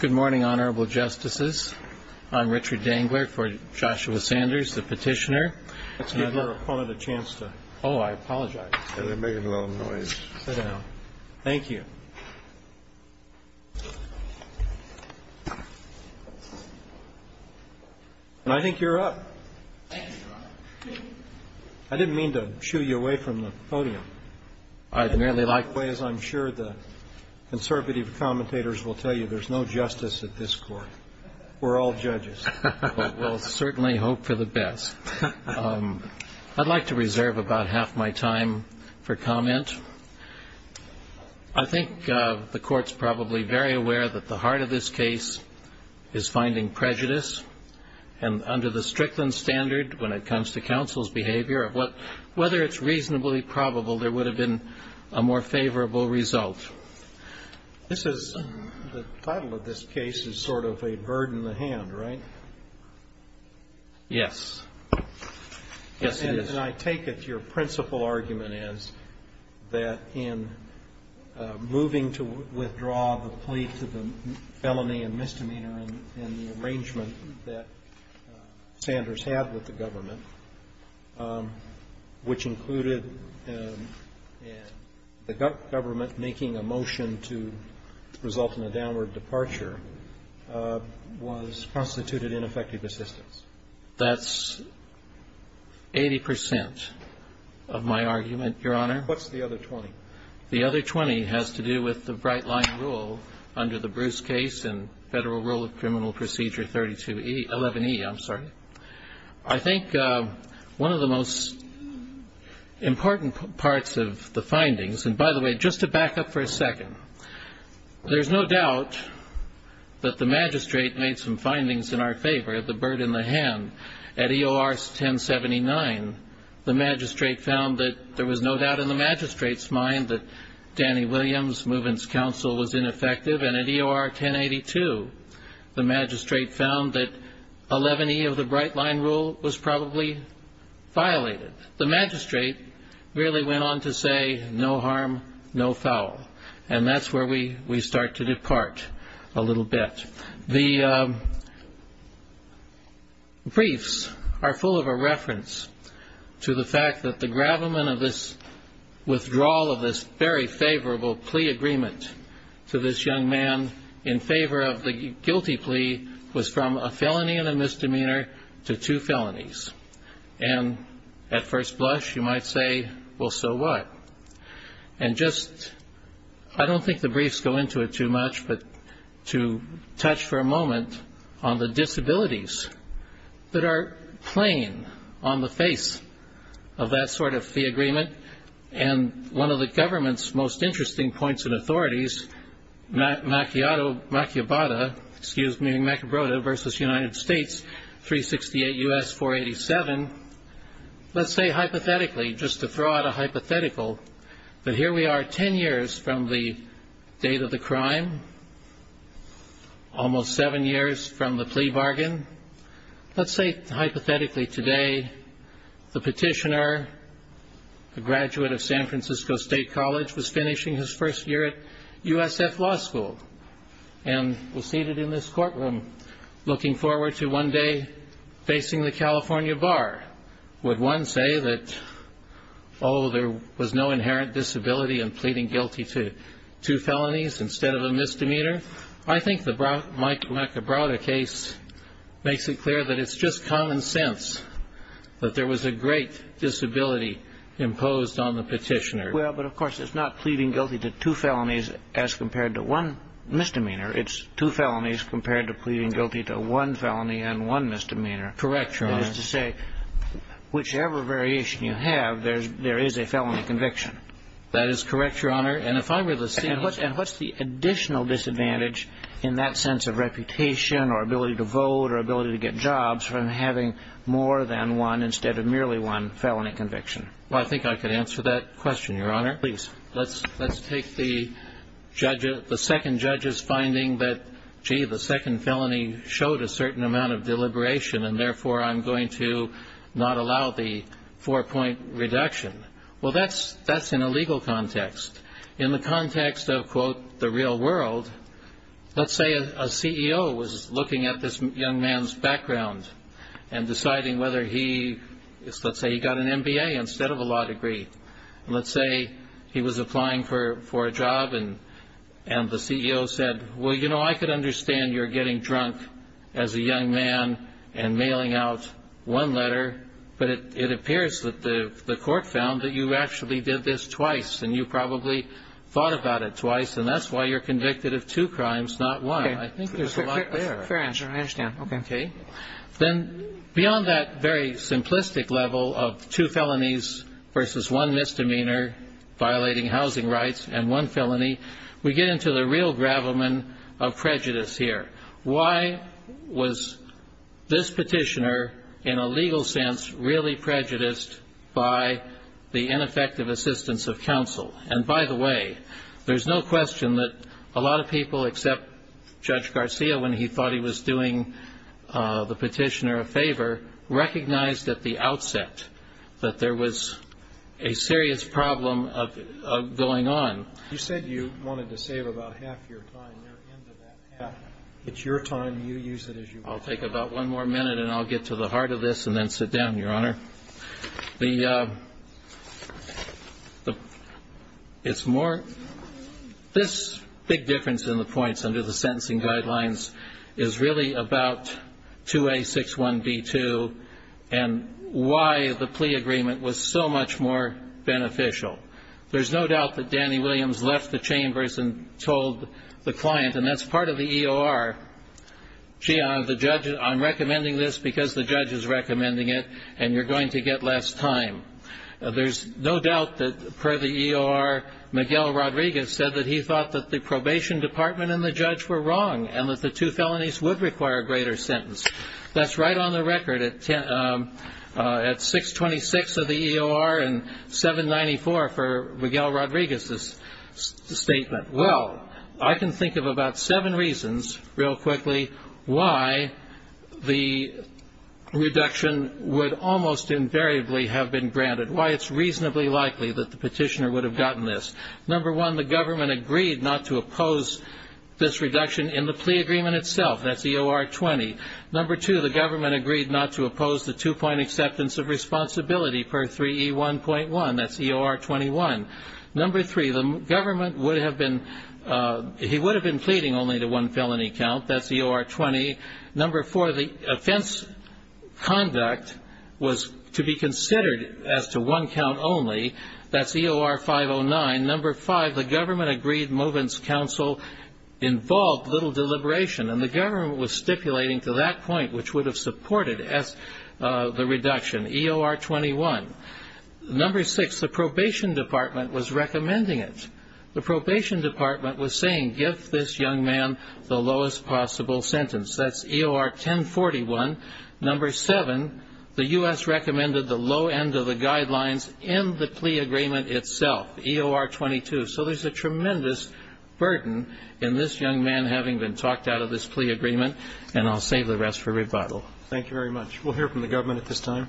Good morning, Honorable Justices. I'm Richard Dangler for Joshua Sanders, the petitioner. Let's give your opponent a chance to – oh, I apologize. They're making a little noise. Thank you. I think you're up. Thank you, Your Honor. I didn't mean to shoo you away from the podium. I'd merely like – In that way, as I'm sure the conservative commentators will tell you, there's no justice at this court. We're all judges. We'll certainly hope for the best. I'd like to reserve about half my time for comment. I think the Court's probably very aware that the heart of this case is finding prejudice. And under the Strickland standard, when it comes to counsel's behavior, whether it's reasonably probable, there would have been a more favorable result. This is – the title of this case is sort of a bird in the hand, right? Yes. Yes, it is. And I take it your principal argument is that in moving to withdraw the plea to the felony and misdemeanor in the arrangement that Sanders had with the government, which included the government making a motion to result in a downward departure, was constituted ineffective assistance. That's 80 percent of my argument, Your Honor. What's the other 20? The other 20 has to do with the Brightline rule under the Bruce case and Federal Rule of Criminal Procedure 11E. I'm sorry. I think one of the most important parts of the findings – and by the way, just to back up for a second, there's no doubt that the magistrate made some findings in our favor, the bird in the hand. At EOR 1079, the magistrate found that there was no doubt in the magistrate's mind that Danny Williams' movement's counsel was ineffective. And at EOR 1082, the magistrate found that 11E of the Brightline rule was probably violated. The magistrate really went on to say, no harm, no foul. And that's where we start to depart a little bit. The briefs are full of a reference to the fact that the gravamen of this withdrawal of this very favorable plea agreement to this young man in favor of the guilty plea was from a felony and a misdemeanor to two felonies. And at first blush, you might say, well, so what? And just – I don't think the briefs go into it too much, but to touch for a moment on the disabilities that are playing on the face of that sort of fee agreement. And one of the government's most interesting points in authorities, Macubata versus United States, 368 U.S., 487, let's say hypothetically, just to throw out a hypothetical, that here we are 10 years from the date of the crime, almost seven years from the plea bargain. Let's say hypothetically today the petitioner, a graduate of San Francisco State College, was finishing his first year at USF Law School and was seated in this courtroom looking forward to one day facing the California bar. Would one say that, oh, there was no inherent disability in pleading guilty to two felonies instead of a misdemeanor? I think the Mike Macubata case makes it clear that it's just common sense that there was a great disability imposed on the petitioner. Well, but of course it's not pleading guilty to two felonies as compared to one misdemeanor. It's two felonies compared to pleading guilty to one felony and one misdemeanor. Correct, Your Honor. That is to say, whichever variation you have, there is a felony conviction. That is correct, Your Honor. And if I were to say... And what's the additional disadvantage in that sense of reputation or ability to vote or ability to get jobs from having more than one instead of merely one felony conviction? Well, I think I could answer that question, Your Honor. Please. Let's take the second judge's finding that, gee, the second felony showed a certain amount of deliberation and therefore I'm going to not allow the four-point reduction. Well, that's in a legal context. In the context of, quote, the real world, let's say a CEO was looking at this young man's background and deciding whether he, let's say he got an MBA instead of a law degree. Let's say he was applying for a job and the CEO said, well, you know, I could understand you're getting drunk as a young man and mailing out one letter, but it appears that the court found that you actually did this twice and you probably thought about it twice and that's why you're convicted of two crimes, not one. I think there's a lot there. Fair answer. I understand. Okay. Then beyond that very simplistic level of two felonies versus one misdemeanor violating housing rights and one felony, we get into the real gravamen of prejudice here. Why was this petitioner in a legal sense really prejudiced by the ineffective assistance of counsel? And by the way, there's no question that a lot of people, except Judge Garcia when he thought he was doing the petitioner a favor, recognized at the outset that there was a serious problem going on. You said you wanted to save about half your time. It's your time. You use it as you wish. I'll take about one more minute and I'll get to the heart of this and then sit down, Your Honor. This big difference in the points under the sentencing guidelines is really about 2A61B2 and why the plea agreement was so much more beneficial. There's no doubt that Danny Williams left the chambers and told the client, and that's part of the EOR, gee, I'm recommending this because the judge is recommending it and you're going to get less time. There's no doubt that per the EOR, Miguel Rodriguez said that he thought that the probation department and the judge were wrong and that the two felonies would require a greater sentence. That's right on the record at 626 of the EOR and 794 for Miguel Rodriguez's statement. Well, I can think of about seven reasons, real quickly, why the reduction would almost invariably have been granted, why it's reasonably likely that the petitioner would have gotten this. Number one, the government agreed not to oppose this reduction in the plea agreement itself. That's EOR 20. Number two, the government agreed not to oppose the two-point acceptance of responsibility per 3E1.1. That's EOR 21. Number three, the government would have been he would have been pleading only to one felony count. That's EOR 20. Number four, the offense conduct was to be considered as to one count only. That's EOR 509. Number five, the government agreed Movent's counsel involved little deliberation, and the government was stipulating to that point which would have supported the reduction, EOR 21. Number six, the probation department was recommending it. The probation department was saying give this young man the lowest possible sentence. That's EOR 1041. Number seven, the U.S. recommended the low end of the guidelines in the plea agreement itself, EOR 22. So there's a tremendous burden in this young man having been talked out of this plea agreement, and I'll save the rest for rebuttal. Thank you very much. We'll hear from the government at this time.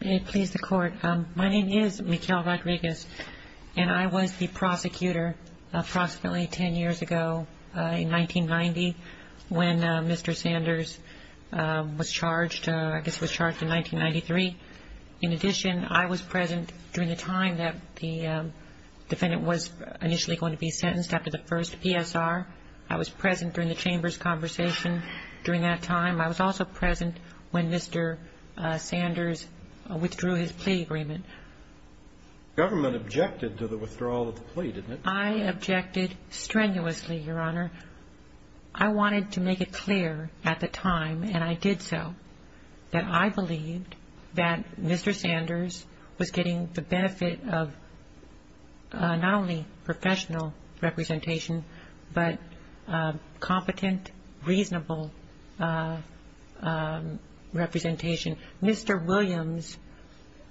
May it please the Court. My name is Michele Rodriguez, and I was the prosecutor approximately 10 years ago in 1990 when Mr. Sanders was charged, I guess was charged in 1993. In addition, I was present during the time that the defendant was initially going to be sentenced after the first PSR. I was present during the chamber's conversation during that time. I was also present when Mr. Sanders withdrew his plea agreement. The government objected to the withdrawal of the plea, didn't it? I objected strenuously, Your Honor. I wanted to make it clear at the time, and I did so, that I believed that Mr. Sanders was getting the benefit of not only professional representation, but competent, reasonable representation. Mr. Williams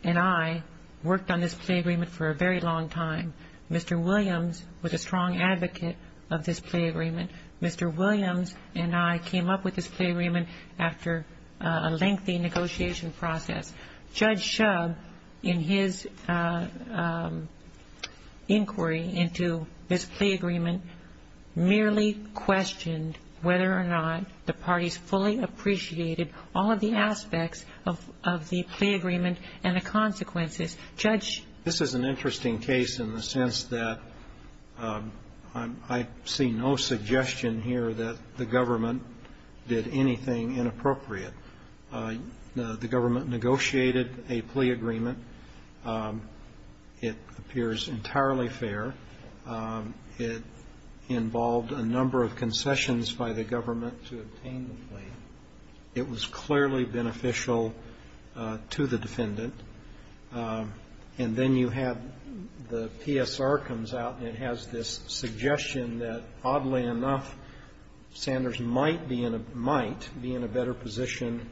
and I worked on this plea agreement for a very long time. Mr. Williams was a strong advocate of this plea agreement. Mr. Williams and I came up with this plea agreement after a lengthy negotiation process. Judge Shub, in his inquiry into this plea agreement, merely questioned whether or not the parties fully appreciated all of the aspects of the plea agreement and the consequences. Judge? This is an interesting case in the sense that I see no suggestion here that the government did anything inappropriate. The government negotiated a plea agreement. It appears entirely fair. It involved a number of concessions by the government to obtain the plea. It was clearly beneficial to the defendant. And then you have the PSR comes out and has this suggestion that, oddly enough, Sanders might be in a better position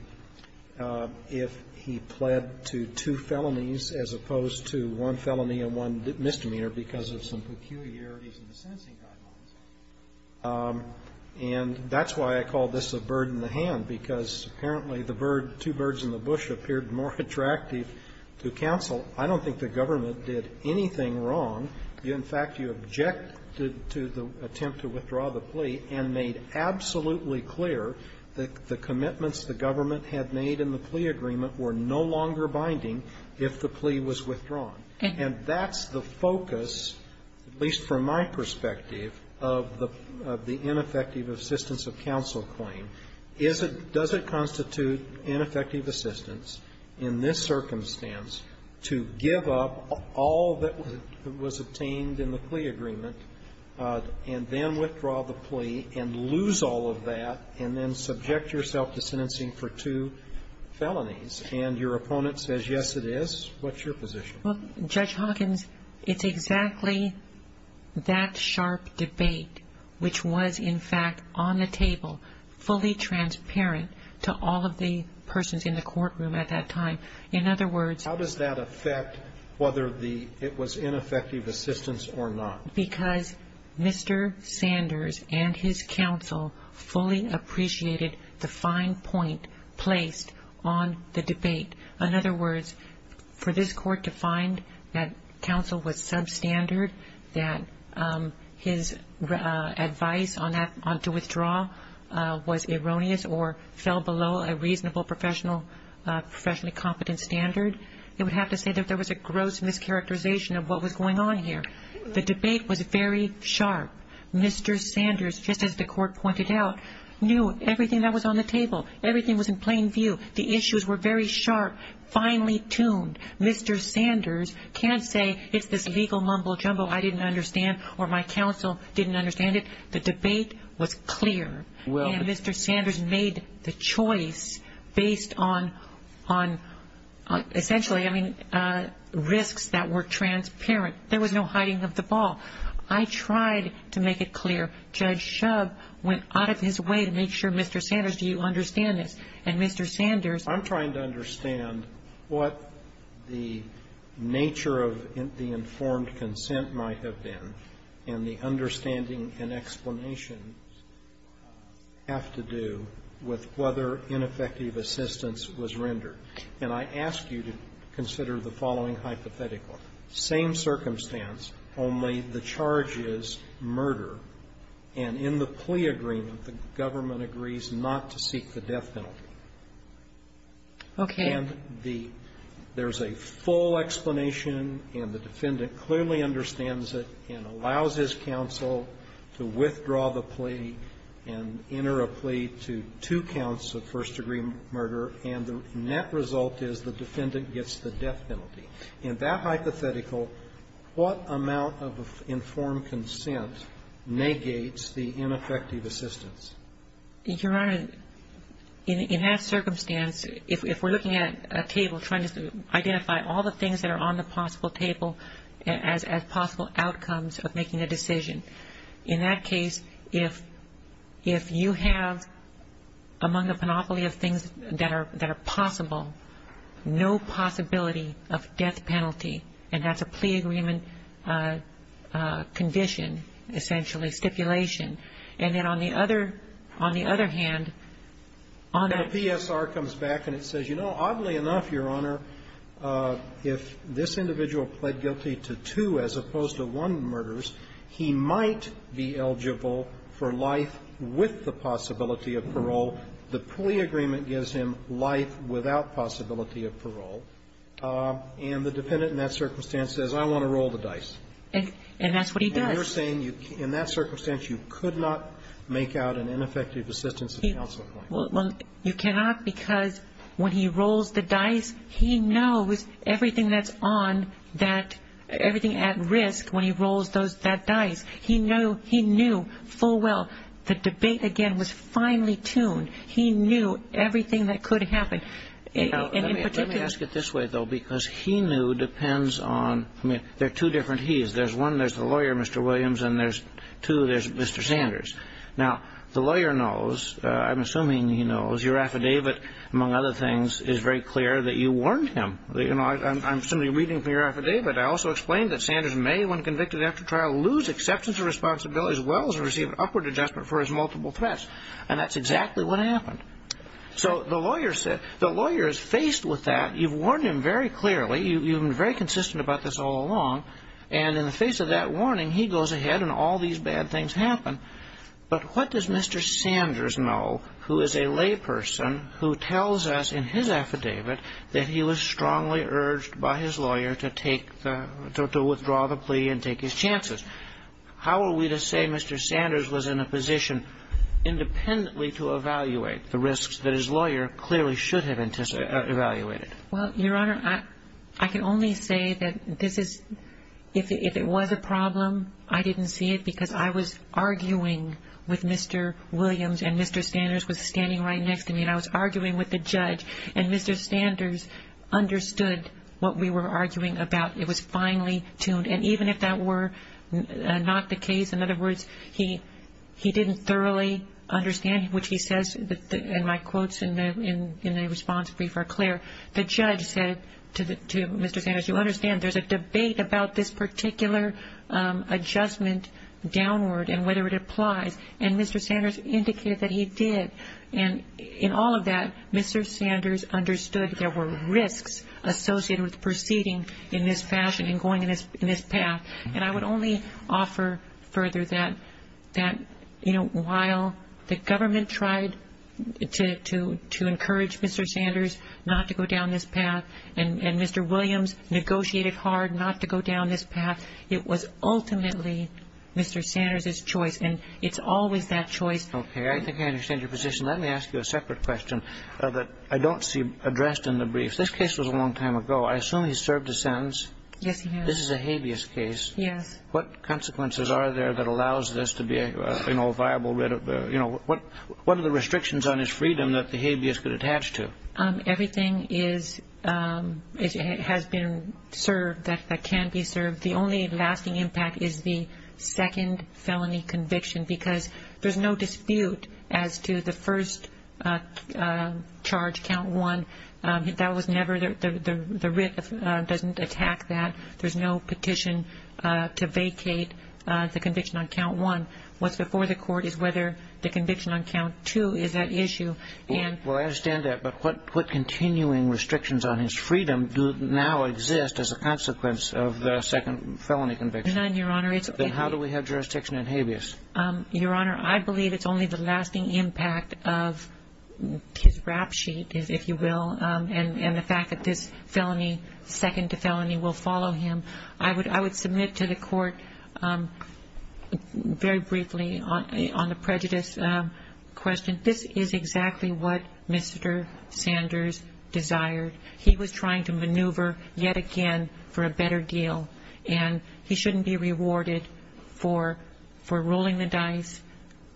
if he pled to two felonies as opposed to one felony and one misdemeanor because of some peculiarities in the sentencing guidelines. And that's why I call this a bird in the hand, because apparently the bird, two birds in the bush, appeared more attractive to counsel. I don't think the government did anything wrong. In fact, you objected to the attempt to withdraw the plea and made absolutely clear that the commitments the government had made in the plea agreement were no longer binding if the plea was withdrawn. And that's the focus, at least from my perspective, of the ineffective assistance of counsel claim, is it does it constitute ineffective assistance in this circumstance to give up all that was obtained in the plea agreement and then withdraw the plea and lose all of that and then subject yourself to sentencing for two felonies? And your opponent says, yes, it is? What's your position? Well, Judge Hawkins, it's exactly that sharp debate which was, in fact, on the table, fully transparent to all of the persons in the courtroom at that time. In other words, how does that affect whether it was ineffective assistance or not? Because Mr. Sanders and his counsel fully appreciated the fine point placed on the debate. In other words, for this court to find that counsel was substandard, that his advice to withdraw was erroneous or fell below a reasonable professionally competent standard, it would have to say that there was a gross mischaracterization of what was going on here. The debate was very sharp. Mr. Sanders, just as the court pointed out, knew everything that was on the table. Everything was in plain view. The issues were very sharp, finely tuned. Mr. Sanders can't say it's this legal mumbo-jumbo I didn't understand or my counsel didn't understand it. The debate was clear. And Mr. Sanders made the choice based on, essentially, I mean, risks that were transparent. There was no hiding of the ball. I tried to make it clear. Judge Shub went out of his way to make sure, Mr. Sanders, do you understand this? And Mr. Sanders said, I'm trying to understand what the nature of the informed consent might have been, and the understanding and explanations have to do with whether ineffective assistance was rendered. And I ask you to consider the following hypothetical. Same circumstance, only the charge is murder. And in the plea agreement, the government agrees not to seek the death penalty. Okay. And there's a full explanation, and the defendant clearly understands it and allows his counsel to withdraw the plea and enter a plea to two counts of first-degree murder, and the net result is the defendant gets the death penalty. In that hypothetical, what amount of informed consent negates the ineffective assistance? Your Honor, in that circumstance, if we're looking at a table trying to identify all the things that are on the possible table as possible outcomes of making a decision, in that case, if you have among the panoply of things that are possible no possibility of death penalty, and that's a plea agreement condition, essentially stipulation. And then on the other hand, on a PSR comes back and it says, you know, oddly enough, Your Honor, if this individual pled guilty to two as opposed to one murders, he might be eligible for life with the possibility of parole. The plea agreement gives him life without possibility of parole, and the dependent in that circumstance says, I want to roll the dice. And that's what he does. And you're saying in that circumstance you could not make out an ineffective assistance at counsel point. Well, you cannot because when he rolls the dice, he knows everything that's on that – everything at risk when he rolls that dice. He knew full well. The debate, again, was finely tuned. He knew everything that could happen. Let me ask it this way, though, because he knew depends on – I mean, there are two different he's. There's one, there's the lawyer, Mr. Williams, and there's two, there's Mr. Sanders. Now, the lawyer knows, I'm assuming he knows, your affidavit, among other things, is very clear that you warned him. I'm simply reading from your affidavit. I also explained that Sanders may, when convicted after trial, lose acceptance of responsibility as well as receive an upward adjustment for his multiple threats. And that's exactly what happened. So the lawyer is faced with that. You've warned him very clearly. You've been very consistent about this all along. And in the face of that warning, he goes ahead and all these bad things happen. But what does Mr. Sanders know, who is a layperson, who tells us in his affidavit that he was strongly urged by his lawyer to withdraw the plea and take his chances? How are we to say Mr. Sanders was in a position independently to evaluate the risks that his lawyer clearly should have evaluated? Well, Your Honor, I can only say that this is, if it was a problem, I didn't see it because I was arguing with Mr. Williams and Mr. Sanders was standing right next to me and I was arguing with the judge, and Mr. Sanders understood what we were arguing about. It was finely tuned. And even if that were not the case, in other words, he didn't thoroughly understand, which he says, and my quotes in the response brief are clear, the judge said to Mr. Sanders, you understand there's a debate about this particular adjustment downward and whether it applies. And Mr. Sanders indicated that he did. And in all of that, Mr. Sanders understood there were risks associated with proceeding in this fashion and going in this path. And I would only offer further that, you know, while the government tried to encourage Mr. Sanders not to go down this path and Mr. Williams negotiated hard not to go down this path, it was ultimately Mr. Sanders' choice. And it's always that choice. Okay. I think I understand your position. Let me ask you a separate question that I don't see addressed in the brief. This case was a long time ago. I assume he served his sentence. Yes, he has. This is a habeas case. Yes. What consequences are there that allows this to be, you know, a viable writ of, you know, what are the restrictions on his freedom that the habeas could attach to? Everything is, has been served that can be served. The only lasting impact is the second felony conviction because there's no dispute as to the first charge, count one. That was never, the writ doesn't attack that. There's no petition to vacate the conviction on count one. What's before the court is whether the conviction on count two is at issue. Well, I understand that. But what continuing restrictions on his freedom do now exist as a consequence of the second felony conviction? Then how do we have jurisdiction in habeas? Your Honor, I believe it's only the lasting impact of his rap sheet, if you will, and the fact that this felony, second to felony, will follow him. I would submit to the court very briefly on the prejudice question. This is exactly what Mr. Sanders desired. He was trying to maneuver yet again for a better deal. And he shouldn't be rewarded for rolling the dice,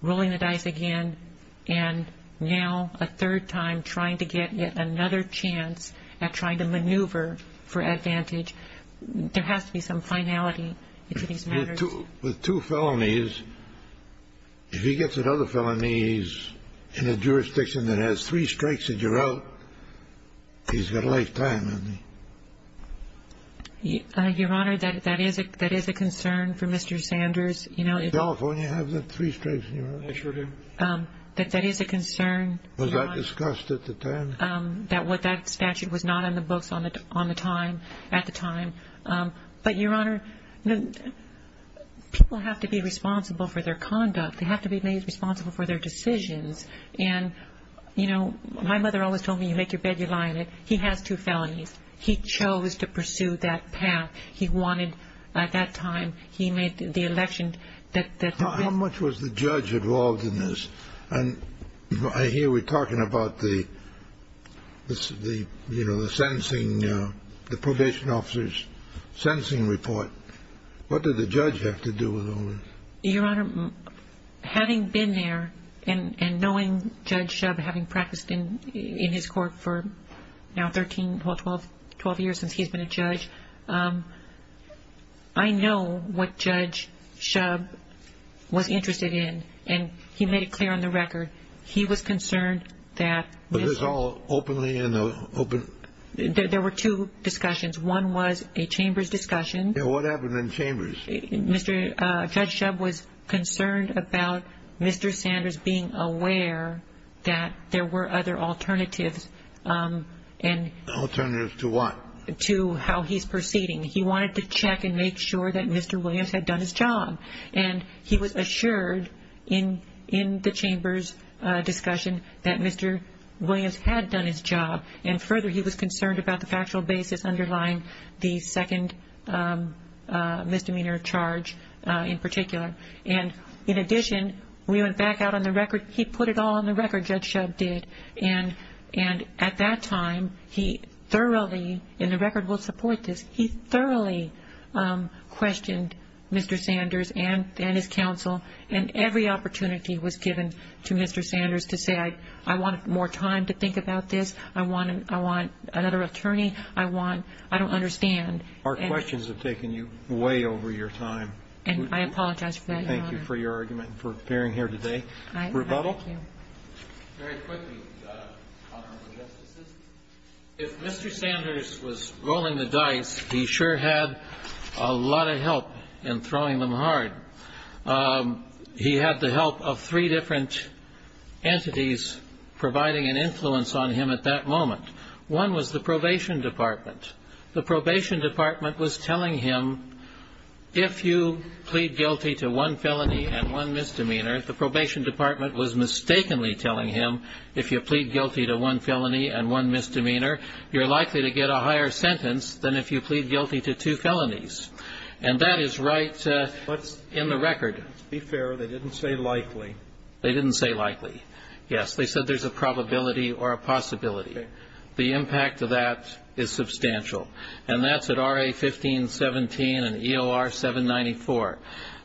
rolling the dice again, and now a third time trying to get yet another chance at trying to maneuver for advantage. There has to be some finality to these matters. With two felonies, if he gets another felony, he's in a jurisdiction that has three strikes and you're out, he's got a lifetime. Your Honor, that is a concern for Mr. Sanders. In California, you have the three strikes and you're out. I sure do. That is a concern. Was that discussed at the time? That statute was not in the books at the time. But, Your Honor, people have to be responsible for their conduct. They have to be made responsible for their decisions. And, you know, my mother always told me, you make your bed, you lie in it. He has two felonies. He chose to pursue that path. He wanted, at that time, he made the election. How much was the judge involved in this? And I hear we're talking about the sentencing, the probation officer's sentencing report. What did the judge have to do with all this? Your Honor, having been there and knowing Judge Shubb, having practiced in his court for now 13, 12 years since he's been a judge, I know what Judge Shubb was interested in, and he made it clear on the record. He was concerned that Mr. Was this all openly in the open? There were two discussions. One was a chambers discussion. What happened in chambers? Judge Shubb was concerned about Mr. Sanders being aware that there were other alternatives. Alternatives to what? To how he's proceeding. He wanted to check and make sure that Mr. Williams had done his job. And he was assured in the chambers discussion that Mr. Williams had done his job. And further, he was concerned about the factual basis underlying the second misdemeanor charge in particular. And in addition, we went back out on the record. He put it all on the record, Judge Shubb did. And at that time, he thoroughly, and the record will support this, he thoroughly questioned Mr. Sanders and his counsel, and every opportunity was given to Mr. Sanders to say, I want more time to think about this. I want another attorney. I don't understand. Our questions have taken you way over your time. And I apologize for that, Your Honor. Thank you for your argument and for appearing here today. Rebuttal? Very quickly, Honorable Justices, if Mr. Sanders was rolling the dice, he sure had a lot of help in throwing them hard. He had the help of three different entities providing an influence on him at that moment. One was the probation department. The probation department was telling him, if you plead guilty to one felony and one misdemeanor, the probation department was mistakenly telling him, if you plead guilty to one felony and one misdemeanor, you're likely to get a higher sentence than if you plead guilty to two felonies. And that is right in the record. Let's be fair. They didn't say likely. They didn't say likely, yes. They said there's a probability or a possibility. The impact of that is substantial. And that's at RA 1517 and EOR 794.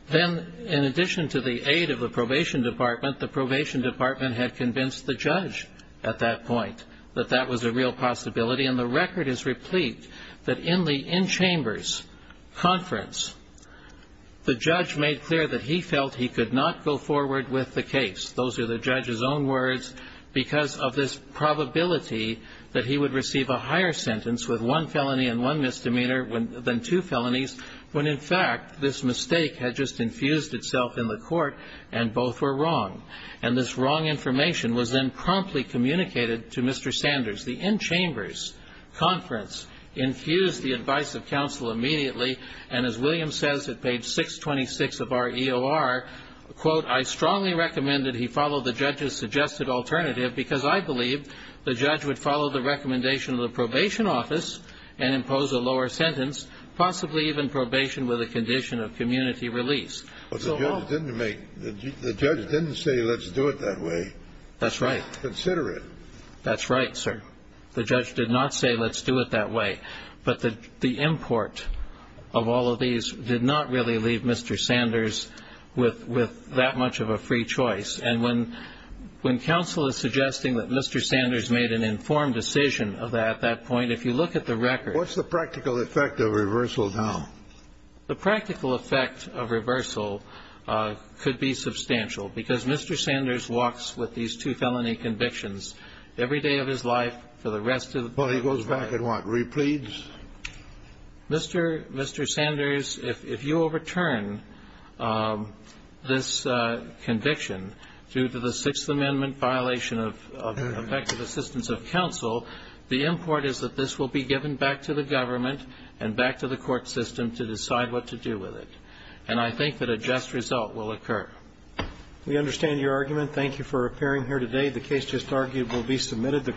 Then, in addition to the aid of the probation department, the probation department had convinced the judge at that point that that was a real possibility. And the record is replete that in the in-chambers conference, the judge made clear that he felt he could not go forward with the case. Those are the judge's own words because of this probability that he would receive a higher sentence with one felony and one misdemeanor than two felonies when, in fact, this mistake had just infused itself in the court and both were wrong. And this wrong information was then promptly communicated to Mr. Sanders. The in-chambers conference infused the advice of counsel immediately. And as William says at page 626 of our EOR, quote, I strongly recommend that he follow the judge's suggested alternative because I believe the judge would follow the recommendation of the probation office and impose a lower sentence, possibly even probation with a condition of community release. The judge didn't say let's do it that way. That's right. Consider it. That's right, sir. The judge did not say let's do it that way. But the import of all of these did not really leave Mr. Sanders with that much of a free choice. And when counsel is suggesting that Mr. Sanders made an informed decision at that point, if you look at the record. What's the practical effect of reversal now? The practical effect of reversal could be substantial because Mr. Sanders walks with these two felony convictions every day of his life for the rest of his life. Well, he goes back and what? Repleads? Mr. Sanders, if you overturn this conviction due to the Sixth Amendment violation of effective assistance of counsel, the import is that this will be given back to the government and back to the court system to decide what to do with it. And I think that a just result will occur. We understand your argument. Thank you for appearing here today. The case just argued will be submitted.